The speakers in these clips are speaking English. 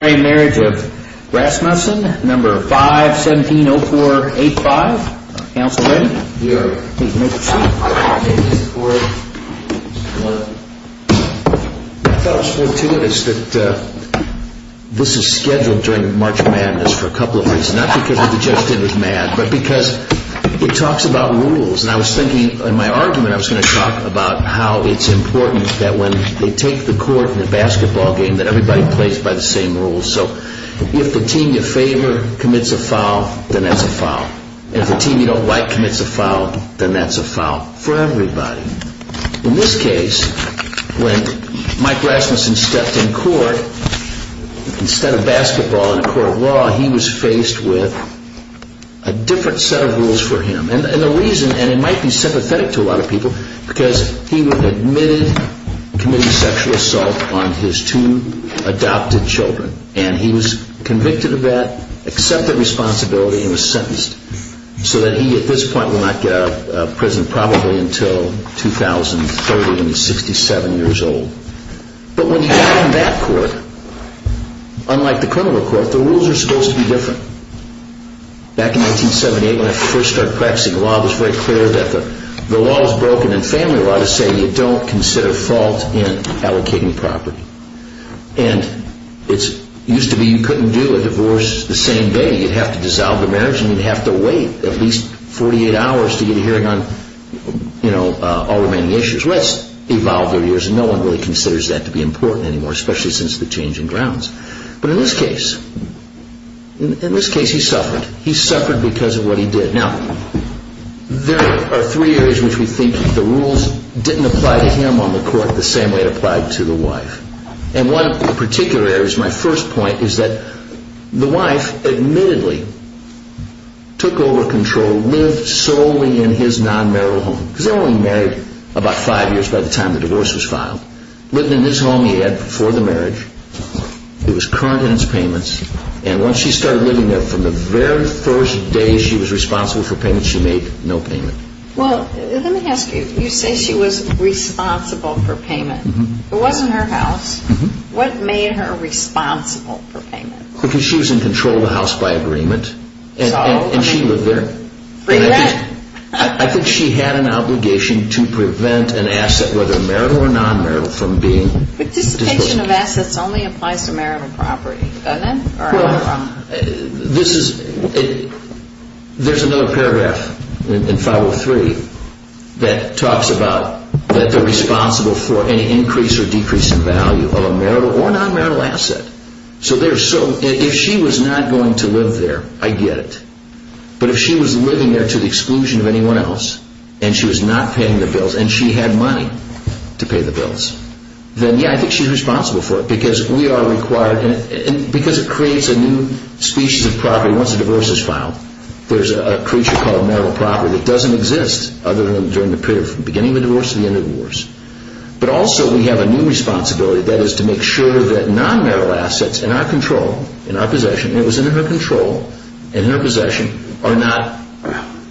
I thought it was fortuitous that this is scheduled during the March of Madness for a couple of reasons. Not because I just did with MAD, but because it talks about rules and I was thinking in my argument I was going to talk about how it's important that when they take the court in a basketball game that everybody plays by the same rules. So if the team you favor commits a foul, then that's a foul. If the team you don't like commits a foul, then that's a foul for everybody. In this case, when Mike Rasmussen stepped in court, instead of basketball in a court of law, he was faced with a different set of rules for him. And the reason, and it might be sympathetic to a lot of people, because he admitted committing a sexual assault on his two adopted children and he was convicted of that, accepted responsibility and was sentenced so that he at this point would not get out of prison probably until 2013, 67 years old. But when you're in that court, unlike the criminal court, the rules are supposed to be different. Back in 1978, when I first started practicing the law, it was very clear that the law is broken in family law to say you don't consider fault in the family law. You have to wait at least 48 hours to get a hearing on all remaining issues. Well, that's evolved over the years and no one really considers that to be important anymore, especially since the changing grounds. But in this case, in this case he suffered. He suffered because of what he did. Now there are three areas which we think the rules didn't apply to him on the court the same way it applied to the wife. And one of the particular areas, my first point, is that the wife admittedly took over control, lived solely in his non-marital home, because they only married about five years by the time the divorce was filed, lived in this home he had before the marriage, it was current in its payments, and once she started living there from the very first day she was responsible for payments, she made no payment. Well, let me ask you, you say she was responsible for payment. It wasn't her house. What made her responsible for payment? Because she was in control of the house by agreement and she lived there. I think she had an obligation to prevent an asset, whether marital or non-marital, from being disposed of. Participation of assets only applies to marital property, doesn't it? Well, there's another paragraph in File 3 that talks about that they're responsible for any increase or decrease in value of a marital or non-marital asset. So if she was not going to live there, I get it, but if she was living there to the exclusion of anyone else, and she was not paying the bills, and she had money to pay the bills, then, yeah, I think she's responsible for it, because we are required, because it creates a new species of property once a divorce is filed. There's a creature called marital property that doesn't exist other than during the period from the beginning of the divorce to the end of the divorce. But also we have a new responsibility, that is to make sure that non-marital assets in our control, in our possession, and it was in her control, and in her possession, are not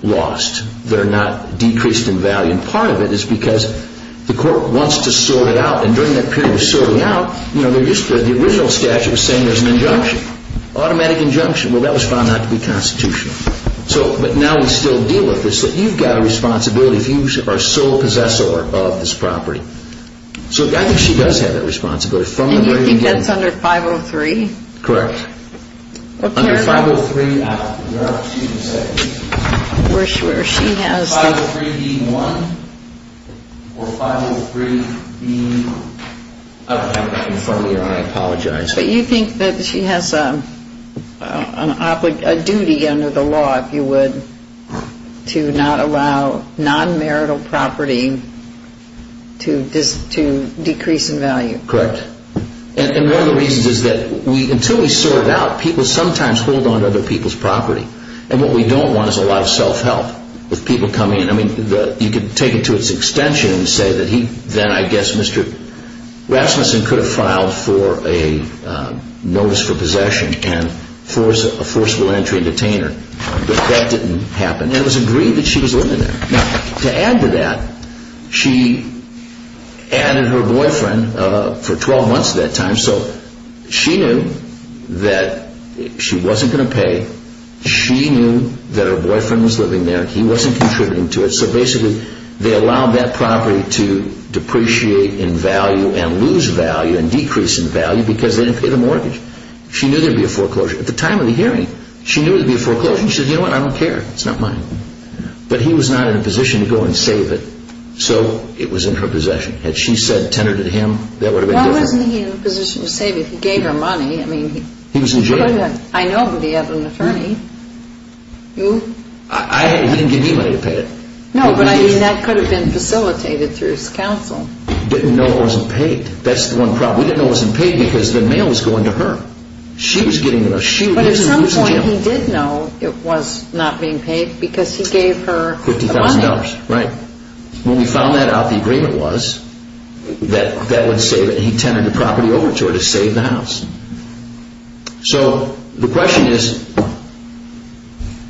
lost, they're not decreased in value, and part of it is because the court wants to sort it out, and during that period of sorting it out, the original statute was saying there's an injunction, automatic injunction, well, that was found not to be constitutional. So, but now we still deal with this, that you've got a responsibility if you are sole possessor of this property. So I think she does have that responsibility from the very beginning. And you think that's under 503? Correct. Under 503, there are a few to say. We're sure she has... 503 being one, or 503 being... I don't have that in front of me, I apologize. But you think that she has a duty under the law, if you would, to not allow non-marital property to decrease in value? Correct. And one of the reasons is that until we sort it out, people sometimes hold on to other people's property. And what we don't want is a lot of self-help with people coming in. I mean, you could take it to its extension and say that he, then I guess Mr. Rasmussen could have filed for a notice for possession and a forcible entry and detainer, but that didn't happen. And it was agreed that she was living there. Now, to add to that, she added her boyfriend for 12 months at that time, so she knew that she wasn't going to pay, she knew that her boyfriend was living there, he wasn't contributing to it, so basically they allowed that property to depreciate in value and lose value and decrease in value because they didn't pay the mortgage. She knew there would be a foreclosure. At the time of the hearing, she knew there would be a foreclosure and she said, you know what, I don't care, it's not mine. But he was not in a position to go and save it, so it was in her possession. Had she said, tenured it to him, that would have been different. But wasn't he in a position to save it? He gave her money. He was in jail. I know, but he had an attorney. He didn't give me money to pay it. No, but that could have been facilitated through his counsel. He didn't know it wasn't paid. That's the one problem. He didn't know it wasn't paid because the mail was going to her. She was getting it. But at some point he did know it was not being paid because he gave her the money. $50,000, right. When we found that out, the agreement was that he tenured the property over to her to save the house. So the question is,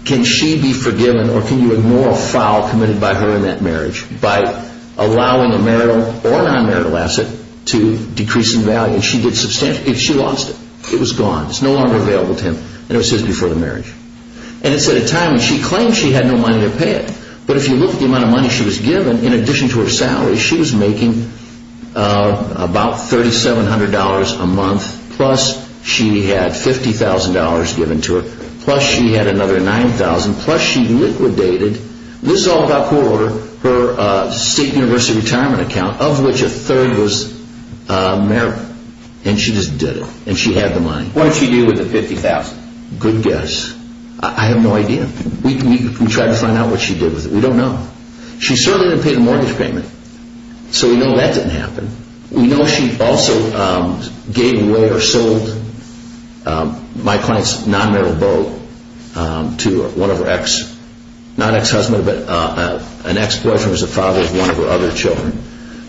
can she be forgiven or can you ignore a foul committed by her in that marriage by allowing a marital or non-marital asset to decrease in value? And she did substantially. She lost it. It was gone. It was no longer available to him. It was his before the marriage. And it's at a time when she claimed she had no money to pay it. But if you look at the amount of money she was given, in addition to her salary, she was making about $3,700 a month, plus she had $50,000 given to her, plus she had another $9,000, plus she liquidated, this is all about court order, her state university retirement account, of which a third was marital. And she just did it. And she had the money. What did she do with the $50,000? Good guess. I have no idea. We tried to find out what she did with it. We don't know. She certainly didn't pay the mortgage payment. So we know that didn't happen. We know she also gave away or sold my client's non-marital boat to one of her ex, not ex-husband, but an ex-boyfriend who was the father of one of her other children.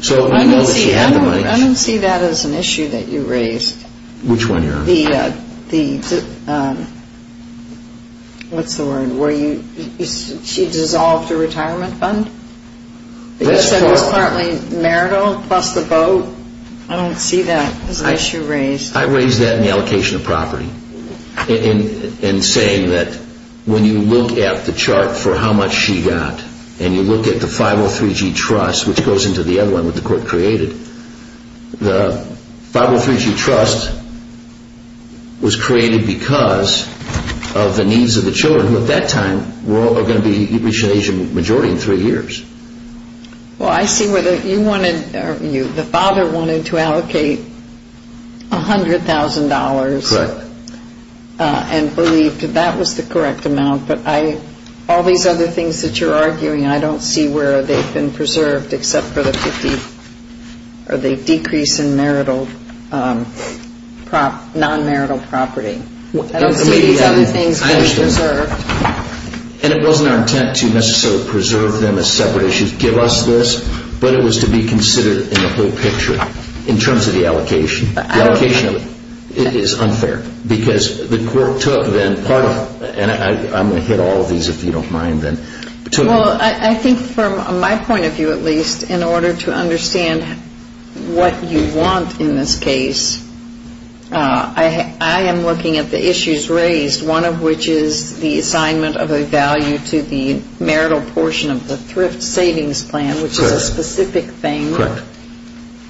So we know that she had the money. I don't see that as an issue that you raised. Which one here? What's the word? She dissolved her retirement fund? That's correct. It was partly marital plus the boat? I don't see that as an issue raised. I raised that in the allocation of property in saying that when you look at the chart for how much she got, and you look at the 503G trust, which goes into the other one that the court created, the 503G trust was created because of the needs of the children who at that time were all going to be reaching Asian majority in three years. Well, I see where the father wanted to allocate $100,000. Correct. And believed that that was the correct amount. But all these other things that you're arguing, I don't see where they've been preserved except for the decrease in non-marital property. I don't see these other things being preserved. And it wasn't our intent to necessarily preserve them as separate issues, give us this, but it was to be considered in the whole picture in terms of the allocation. The allocation is unfair because the court took then part of it, and I'm going to hit all of these if you don't mind. Well, I think from my point of view at least, in order to understand what you want in this case, I am looking at the issues raised, one of which is the assignment of a value to the marital portion of the thrift savings plan, which is a specific thing. Correct.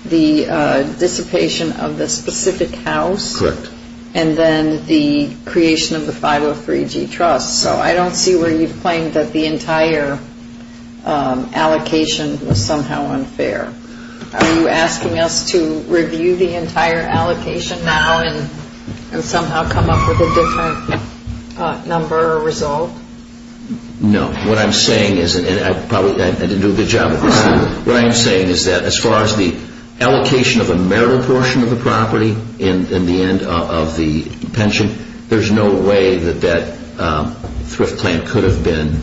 The dissipation of the specific house. Correct. And then the creation of the 503G trust. So I don't see where you've claimed that the entire allocation was somehow unfair. Are you asking us to review the entire allocation now and somehow come up with a different number or result? No. What I'm saying is, and I probably didn't do a good job at this, what I'm saying is that as far as the allocation of a marital portion of the property in the end of the pension, there's no way that that thrift plan could have been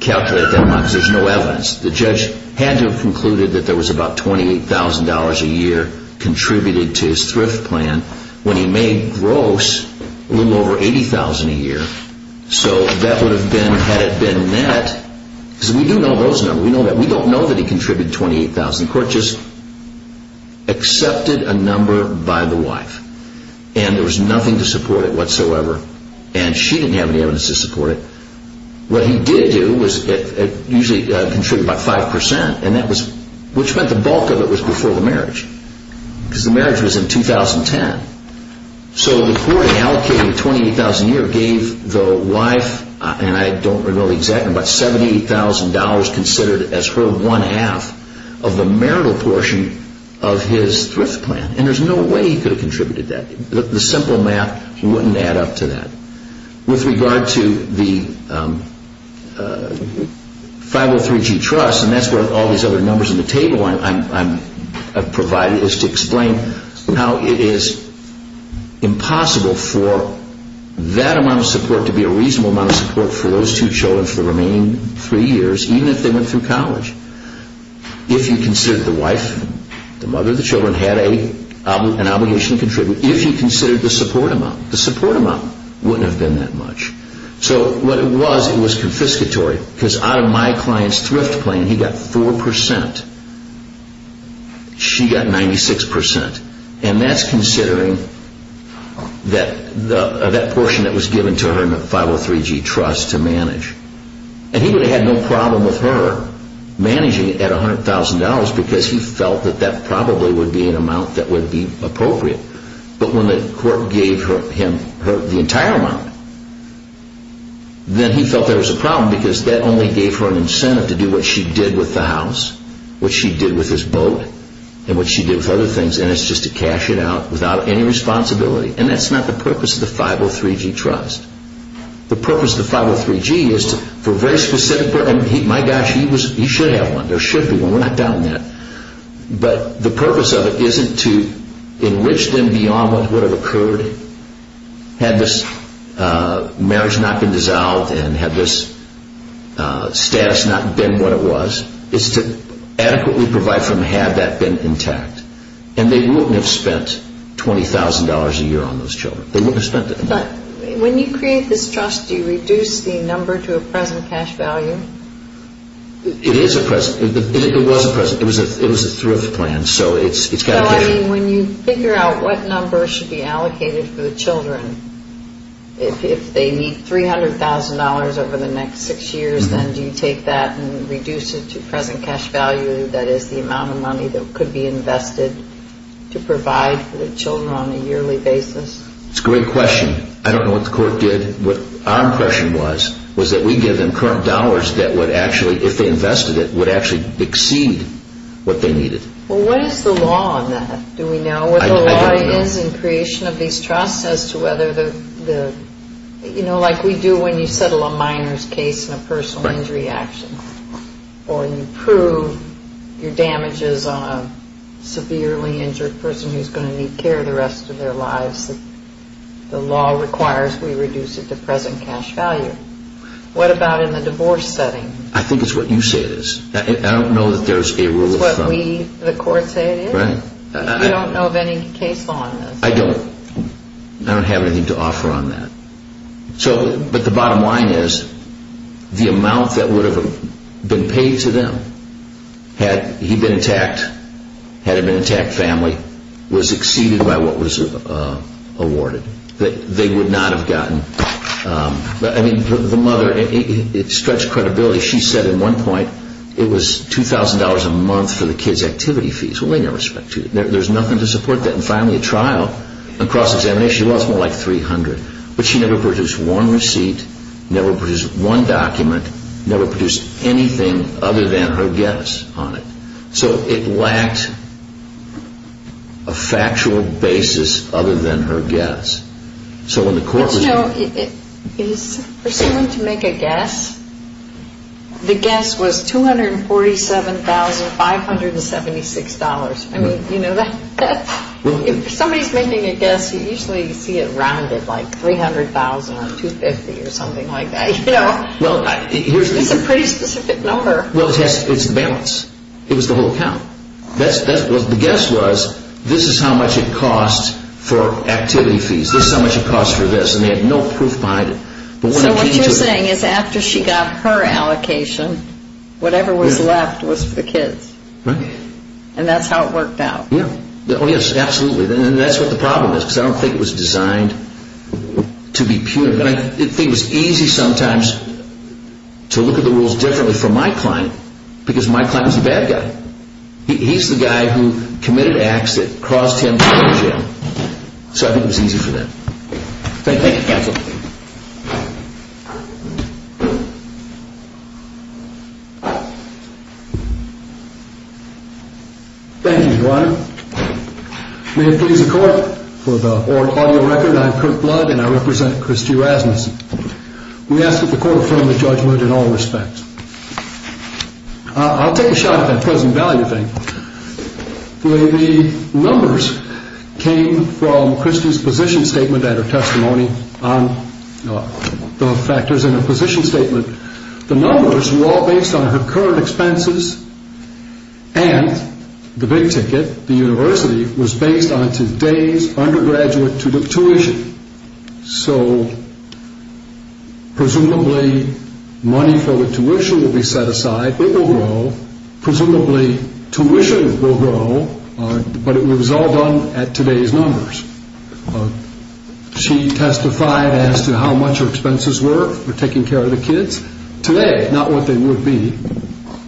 calculated that much. There's no evidence. The judge had to have concluded that there was about $28,000 a year contributed to his thrift plan when he made gross a little over $80,000 a year. So that would have been, had it been net, because we do know those numbers. We don't know that he contributed $28,000. The court just accepted a number by the wife. And there was nothing to support it whatsoever. And she didn't have any evidence to support it. What he did do was usually contribute about 5%, which meant the bulk of it was before the marriage. Because the marriage was in 2010. So the court allocated $28,000 a year, gave the wife, and I don't remember the exact number, but $78,000 considered as her one half of the marital portion of his thrift plan. And there's no way he could have contributed that. The simple math wouldn't add up to that. With regard to the 503G Trust, and that's where all these other numbers in the table I've provided, is to explain how it is impossible for that amount of support to be a reasonable amount of support for those two children for the remaining three years, even if they went through college. If you considered the wife, the mother of the children, had an obligation to contribute, if you considered the support amount, the support amount wouldn't have been that much. So what it was, it was confiscatory. Because out of my client's thrift plan, he got 4%. She got 96%. And that's considering that portion that was given to her in the 503G Trust to manage. And he would have had no problem with her managing it at $100,000 because he felt that that probably would be an amount that would be appropriate. But when the court gave him the entire amount, then he felt there was a problem because that only gave her an incentive to do what she did with the house, what she did with his boat, and what she did with other things. And it's just to cash it out without any responsibility. And that's not the purpose of the 503G Trust. The purpose of the 503G is for a very specific purpose. My gosh, he should have one. There should be one. We're not doubting that. But the purpose of it isn't to enrich them beyond what would have occurred had this marriage not been dissolved and had this status not been what it was. It's to adequately provide for them had that been intact. And they wouldn't have spent $20,000 a year on those children. They wouldn't have spent that much. But when you create this trust, do you reduce the number to a present cash value? It is a present. It was a present. It was a thrift plan. So it's kind of different. So I mean, when you figure out what number should be allocated for the children, if they need $300,000 over the next six years, then do you take that and reduce it to present cash value, that is, the amount of money that could be invested to provide for the children on a yearly basis? It's a great question. I don't know what the court did. Our impression was that we gave them current dollars that would actually, if they invested it, would actually exceed what they needed. Well, what is the law on that? Do we know what the law is in creation of these trusts? You know, like we do when you settle a minor's case in a personal injury action, or you prove your damages on a severely injured person who's going to need care the rest of their lives, the law requires we reduce it to present cash value. What about in the divorce setting? I think it's what you say it is. I don't know that there's a rule of thumb. It's what we, the court, say it is? Right. You don't know of any case law on this? I don't. I don't have anything to offer on that. But the bottom line is the amount that would have been paid to them had he been intact, had it been an intact family, was exceeded by what was awarded. They would not have gotten... I mean, the mother, it stretched credibility. She said at one point it was $2,000 a month for the kids' activity fees. There's nothing to support that. And finally, a trial, a cross-examination, she lost more like $300. But she never produced one receipt, never produced one document, never produced anything other than her guess on it. So it lacked a factual basis other than her guess. So when the court was... For someone to make a guess, the guess was $247,576. I mean, you know, if somebody's making a guess, you usually see it rounded like $300,000 or $250,000 or something like that. It's a pretty specific number. Well, it's the balance. It was the whole count. The guess was, this is how much it costs for activity fees. This is how much it costs for this. And they had no proof behind it. So what you're saying is after she got her allocation, whatever was left was for the kids. Right. And that's how it worked out. Oh, yes, absolutely. And that's what the problem is because I don't think it was designed to be punitive. I think it was easy sometimes to look at the rules differently for my client because my client was the bad guy. He's the guy who committed acts that caused him to go to jail. So I think it was easy for them. Thank you, counsel. Thank you, Brian. May it please the Court, for the audio record, I'm Kirk Blood and I represent Christy Rasmussen. We ask that the Court affirm the judgment in all respects. I'll take a shot at that present value thing. The numbers came from Christy's position statement and her testimony on the factors in her position statement. The numbers were all based on her current expenses and the big ticket, the university, was based on today's undergraduate tuition. So presumably money for the tuition will be set aside. It will grow. Presumably tuition will grow. But it was all done at today's numbers. She testified as to how much her expenses were for taking care of the kids. Today, not what they would be.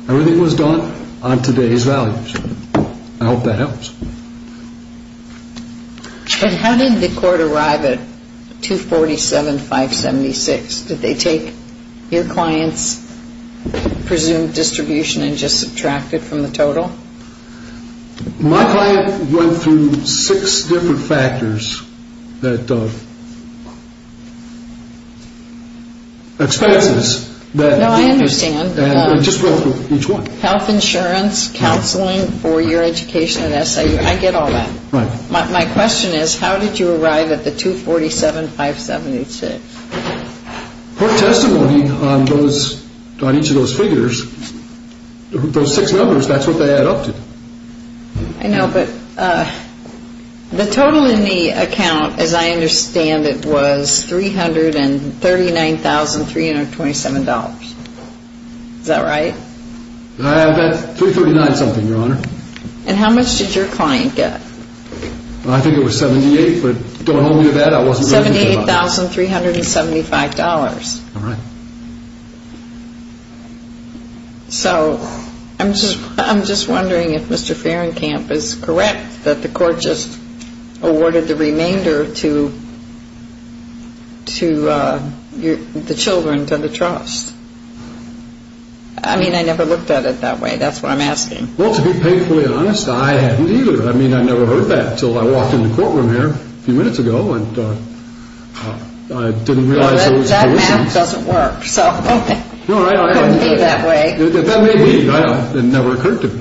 Everything was done on today's values. I hope that helps. How did the Court arrive at 247,576? Did they take your client's presumed distribution and just subtract it from the total? My client went through six different factors that expenses. No, I understand. Just go through each one. Health insurance, counseling, four-year education and SIU. I get all that. Right. My question is how did you arrive at the 247,576? Her testimony on each of those figures, those six numbers, that's what they added up to. I know, but the total in the account, as I understand it, was $339,327. Is that right? About 339-something, Your Honor. And how much did your client get? I think it was $78,000, but going home to that, I wasn't really thinking about it. $78,375. All right. So I'm just wondering if Mr. Fahrenkamp is correct that the Court just awarded the remainder to the children, to the trust. I mean, I never looked at it that way. That's what I'm asking. Well, to be painfully honest, I hadn't either. I mean, I never heard that until I walked into the courtroom here a few minutes ago, and I didn't realize there was a collision. That math doesn't work, so it couldn't be that way. That may be. It never occurred to me.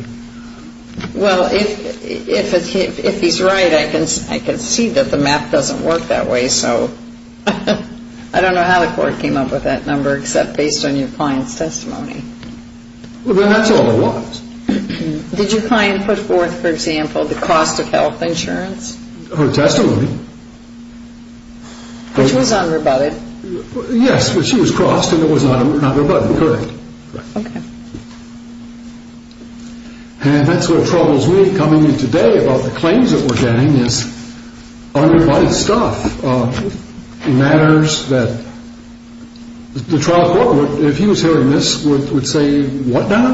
Well, if he's right, I can see that the math doesn't work that way, so I don't know how the Court came up with that number, except based on your client's testimony. Well, then that's all there was. Did your client put forth, for example, the cost of health insurance? Her testimony. Which was unrebutted. Yes, but she was crossed, and it was not rebutted. Correct. Okay. And that's what troubles me coming in today about the claims that we're getting is unrebutted stuff, matters that the trial court, if he was hearing this, would say, what now?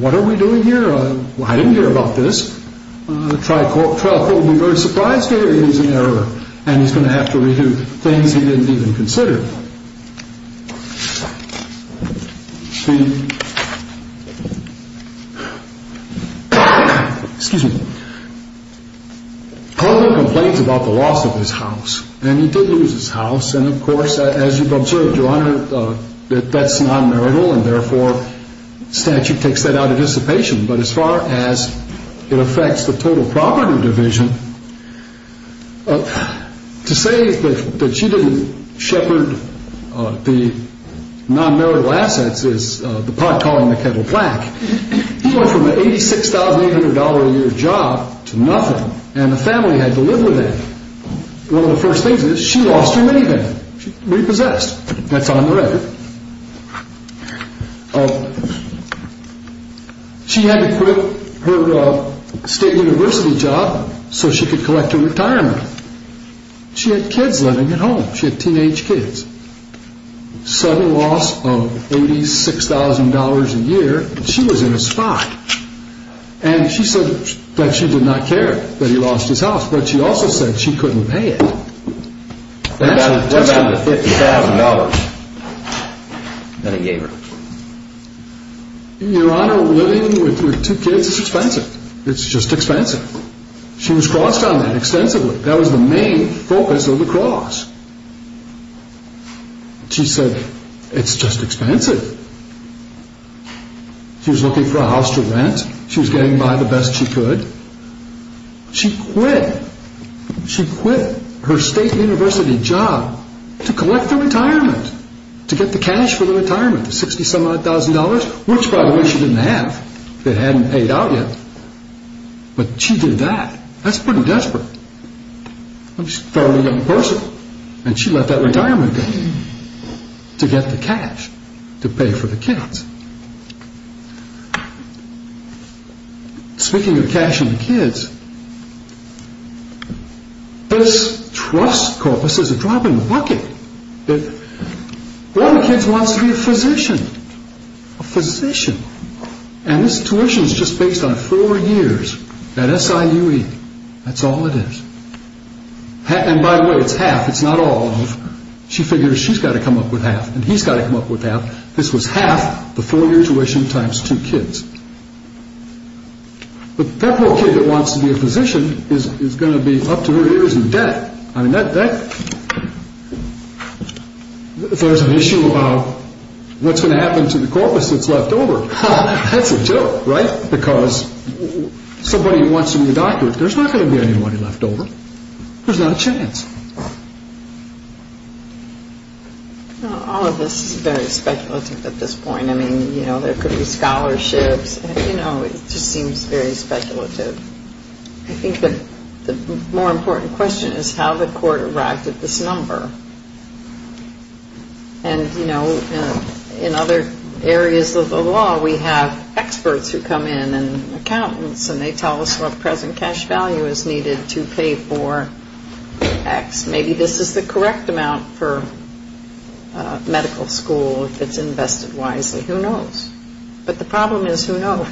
What are we doing here? I didn't hear about this. The trial court would be very surprised to hear he's in error, and he's going to have to redo things he didn't even consider. Excuse me. Palmer complains about the loss of his house, and he did lose his house, and, of course, as you've observed, Your Honor, that's non-marital, and therefore statute takes that out of dissipation. But as far as it affects the total property division, to say that she didn't shepherd the non-marital assets is the pot calling the kettle black. He went from an $86,800 a year job to nothing, and the family had to live with that. One of the first things is she lost her minivan. She repossessed. That's on the record. She had to quit her state university job so she could collect her retirement. She had kids living at home. She had teenage kids. Sudden loss of $86,000 a year, and she was in a spot. And she said that she did not care that he lost his house, but she also said she couldn't pay it. That's $250,000 that he gave her. Your Honor, living with two kids is expensive. It's just expensive. She was crossed on that extensively. That was the main focus of the cross. She said it's just expensive. She was looking for a house to rent. She was getting by the best she could. She quit. She quit her state university job to collect the retirement, to get the cash for the retirement, $60,000, which, by the way, she didn't have. It hadn't paid out yet. But she did that. That's pretty desperate. She's a fairly young person, and she left that retirement to get the cash to pay for the kids. Speaking of cashing the kids, this trust corpus is a drop in the bucket. One of the kids wants to be a physician. A physician. And this tuition is just based on four years at SIUE. That's all it is. And, by the way, it's half. It's not all of. She figures she's got to come up with half, and he's got to come up with half. This was half the four-year tuition times two kids. That little kid that wants to be a physician is going to be up to her ears in debt. If there's an issue about what's going to happen to the corpus that's left over, that's a joke, right? Because somebody wants to be a doctor, there's not going to be anybody left over. There's not a chance. All of this is very speculative at this point. I mean, you know, there could be scholarships. You know, it just seems very speculative. I think the more important question is how the court arrived at this number. And, you know, in other areas of the law, we have experts who come in and accountants, and they tell us what present cash value is needed to pay for X. Maybe this is the correct amount for medical school if it's invested wisely. Who knows? But the problem is, who knows?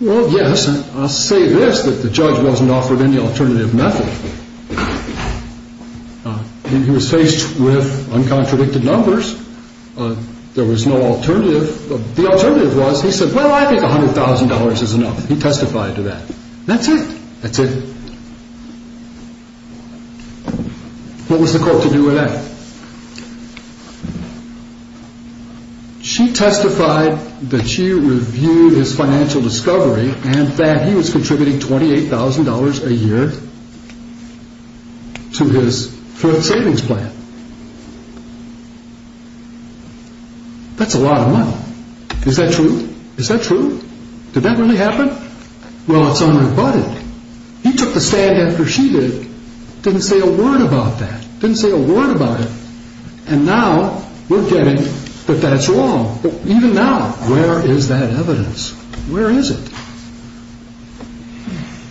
Well, yes, and I'll say this, that the judge wasn't offered any alternative method. He was faced with uncontradicted numbers. There was no alternative. The alternative was he said, well, I think $100,000 is enough. He testified to that. That's it. That's it. What was the court to do with that? She testified that she reviewed his financial discovery and that he was contributing $28,000 a year to his savings plan. That's a lot of money. Is that true? Is that true? Did that really happen? Well, it's unrebutted. He took the stand after she did. Didn't say a word about that. Didn't say a word about it. And now we're getting that that's wrong. But even now, where is that evidence? Where is it?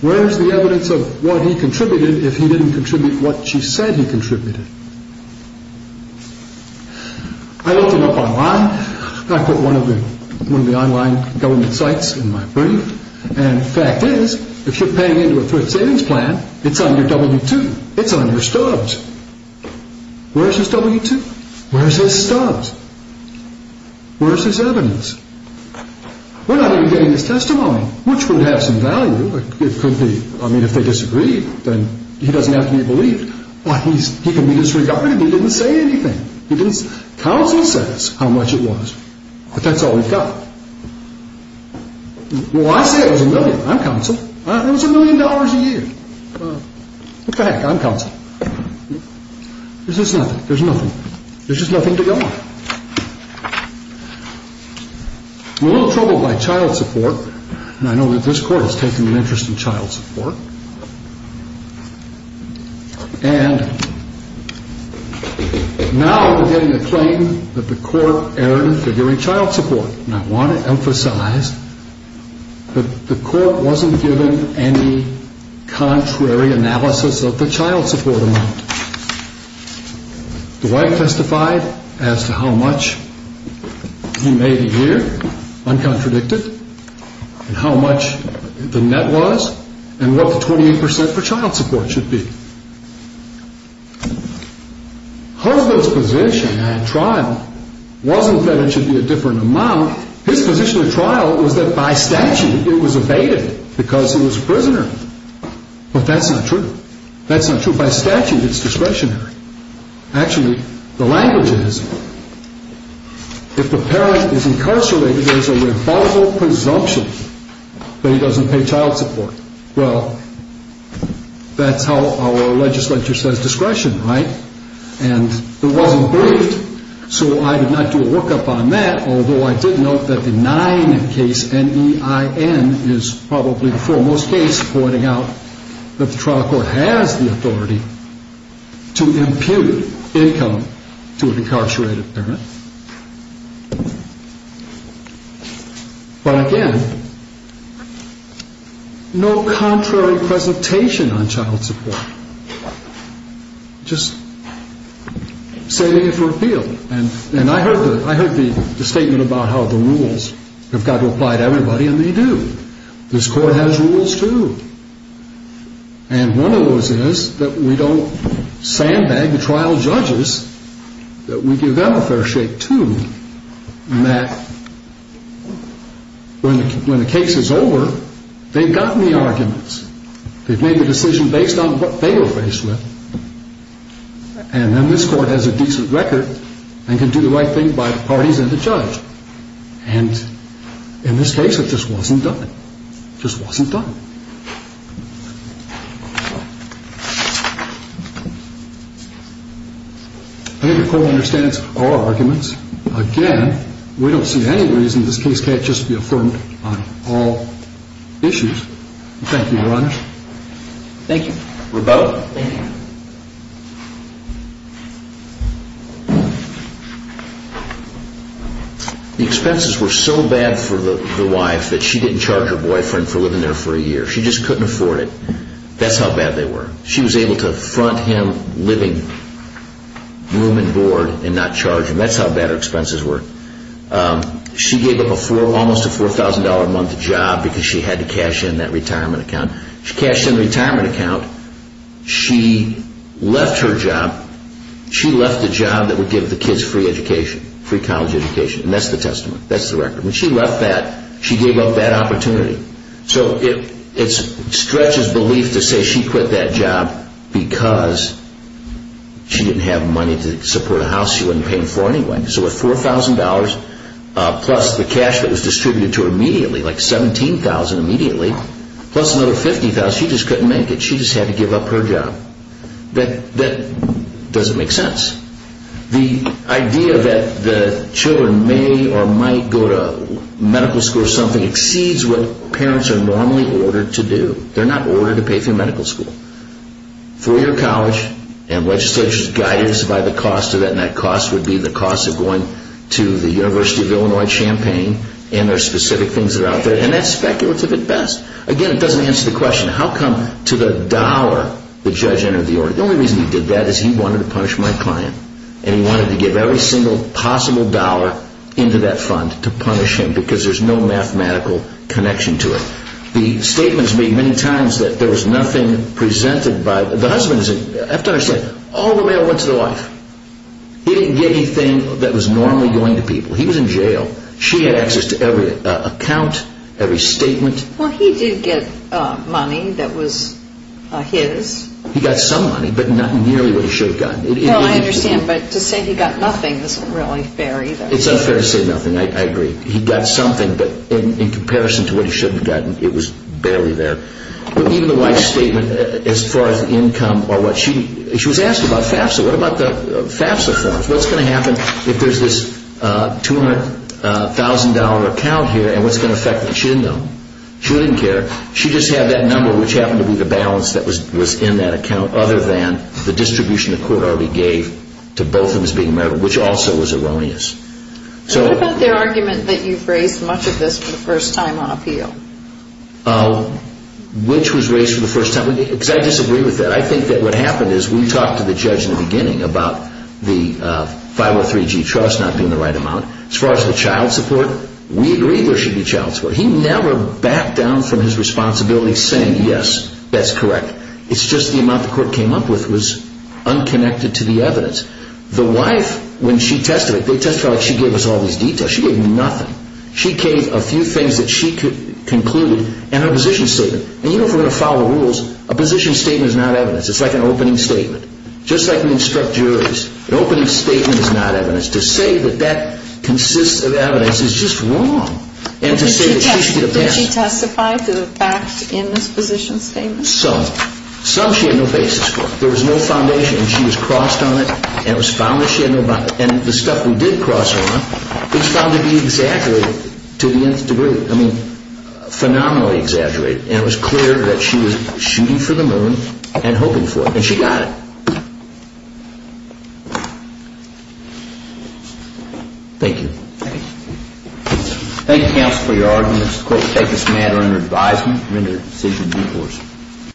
Where is the evidence of what he contributed if he didn't contribute what she said he contributed? I looked it up online. I put one of the online government sites in my brief. And the fact is, if you're paying into a thrift savings plan, it's on your W-2. It's on your stubs. Where's his W-2? Where's his stubs? Where's his evidence? We're not even getting his testimony, which would have some value. It could be. I mean, if they disagree, then he doesn't have to be believed. He can be disregarded if he didn't say anything. Counsel says how much it was. But that's all we've got. Well, I say it was a million. I'm counsel. It was a million dollars a year. What the heck? I'm counsel. There's just nothing. There's nothing. There's just nothing to go on. We're a little troubled by child support. And I know that this court has taken an interest in child support. And now we're getting a claim that the court erred in figuring child support. And I want to emphasize that the court wasn't given any contrary analysis of the child support amount. Dwight testified as to how much he made a year, uncontradicted, and how much the net was, and what the 28% for child support should be. Hosdall's position at trial wasn't that it should be a different amount. His position at trial was that by statute it was evaded because he was a prisoner. But that's not true. That's not true by statute. It's discretionary. Actually, the language is if the parent is incarcerated, there's a rebuttal presumption that he doesn't pay child support. Well, that's how our legislature says discretion, right? And it wasn't briefed, so I did not do a workup on that, although I did note that the nine in case, N-E-I-N, is probably the foremost case pointing out that the trial court has the authority to impute income to an incarcerated parent. But again, no contrary presentation on child support, just setting it for appeal. And I heard the statement about how the rules have got to apply to everybody, and they do. This court has rules, too. And one of those is that we don't sandbag the trial judges, that we give them a fair shake, too, in that when the case is over, they've gotten the arguments. They've made the decision based on what they were faced with. And then this Court has a decent record and can do the right thing by the parties and the judge. And in this case, it just wasn't done. It just wasn't done. I think the Court understands our arguments. Again, we don't see any reason this case can't just be affirmed on all issues. Thank you, Your Honor. Thank you. We're both? Thank you. The expenses were so bad for the wife that she didn't charge her boyfriend for living there for a year. She just couldn't afford it. That's how bad they were. She was able to front him living room and board and not charge him. That's how bad her expenses were. She gave up almost a $4,000-a-month job because she had to cash in that retirement account. She cashed in the retirement account. She left her job. She left the job that would give the kids free education, free college education. And that's the testament. That's the record. When she left that, she gave up that opportunity. So it stretches belief to say she quit that job because she didn't have money to support a house she wasn't paying for anyway. So with $4,000 plus the cash that was distributed to her immediately, like $17,000 immediately, plus another $50,000, she just couldn't make it. She just had to give up her job. That doesn't make sense. The idea that the children may or might go to medical school or something exceeds what parents are normally ordered to do. They're not ordered to pay for medical school. Free college and legislature's guidance by the cost of it. And that cost would be the cost of going to the University of Illinois at Champaign. And there are specific things that are out there. And that's speculative at best. Again, it doesn't answer the question, how come to the dollar the judge entered the order? The only reason he did that is he wanted to punish my client. And he wanted to give every single possible dollar into that fund to punish him because there's no mathematical connection to it. The statements made many times that there was nothing presented by the husband. I have to understand, all the mail went to the wife. He didn't get anything that was normally going to people. He was in jail. She had access to every account, every statement. Well, he did get money that was his. He got some money, but not nearly what he should have gotten. Well, I understand. But to say he got nothing isn't really fair either. It's not fair to say nothing. I agree. He got something, but in comparison to what he should have gotten, it was barely there. Even the wife's statement, as far as income or what, she was asked about FAFSA. What about the FAFSA forms? What's going to happen if there's this $200,000 account here, and what's going to affect it? She didn't know. She didn't care. She just had that number, which happened to be the balance that was in that account, other than the distribution the court already gave to both of them as being married, which also was erroneous. What about their argument that you've raised much of this for the first time on appeal? Which was raised for the first time? Because I disagree with that. I think that what happened is we talked to the judge in the beginning about the 503G trust not being the right amount. As far as the child support, we agree there should be child support. He never backed down from his responsibility saying, yes, that's correct. It's just the amount the court came up with was unconnected to the evidence. The wife, when she testified, they testified like she gave us all these details. She gave nothing. She gave a few things that she concluded in her position statement. You know, if we're going to follow rules, a position statement is not evidence. It's like an opening statement. Just like we instruct juries, an opening statement is not evidence. To say that that consists of evidence is just wrong. Did she testify to the facts in this position statement? Some. Some she had no basis for. There was no foundation. She was crossed on it and it was found that she had no basis. And the stuff we did cross on was found to be exaggerated to the nth degree. I mean, phenomenally exaggerated. And it was clear that she was shooting for the moon and hoping for it. And she got it. Thank you. Thank you. Thank you, counsel, for your arguments. The court will take this matter under advisement and render a decision in due course.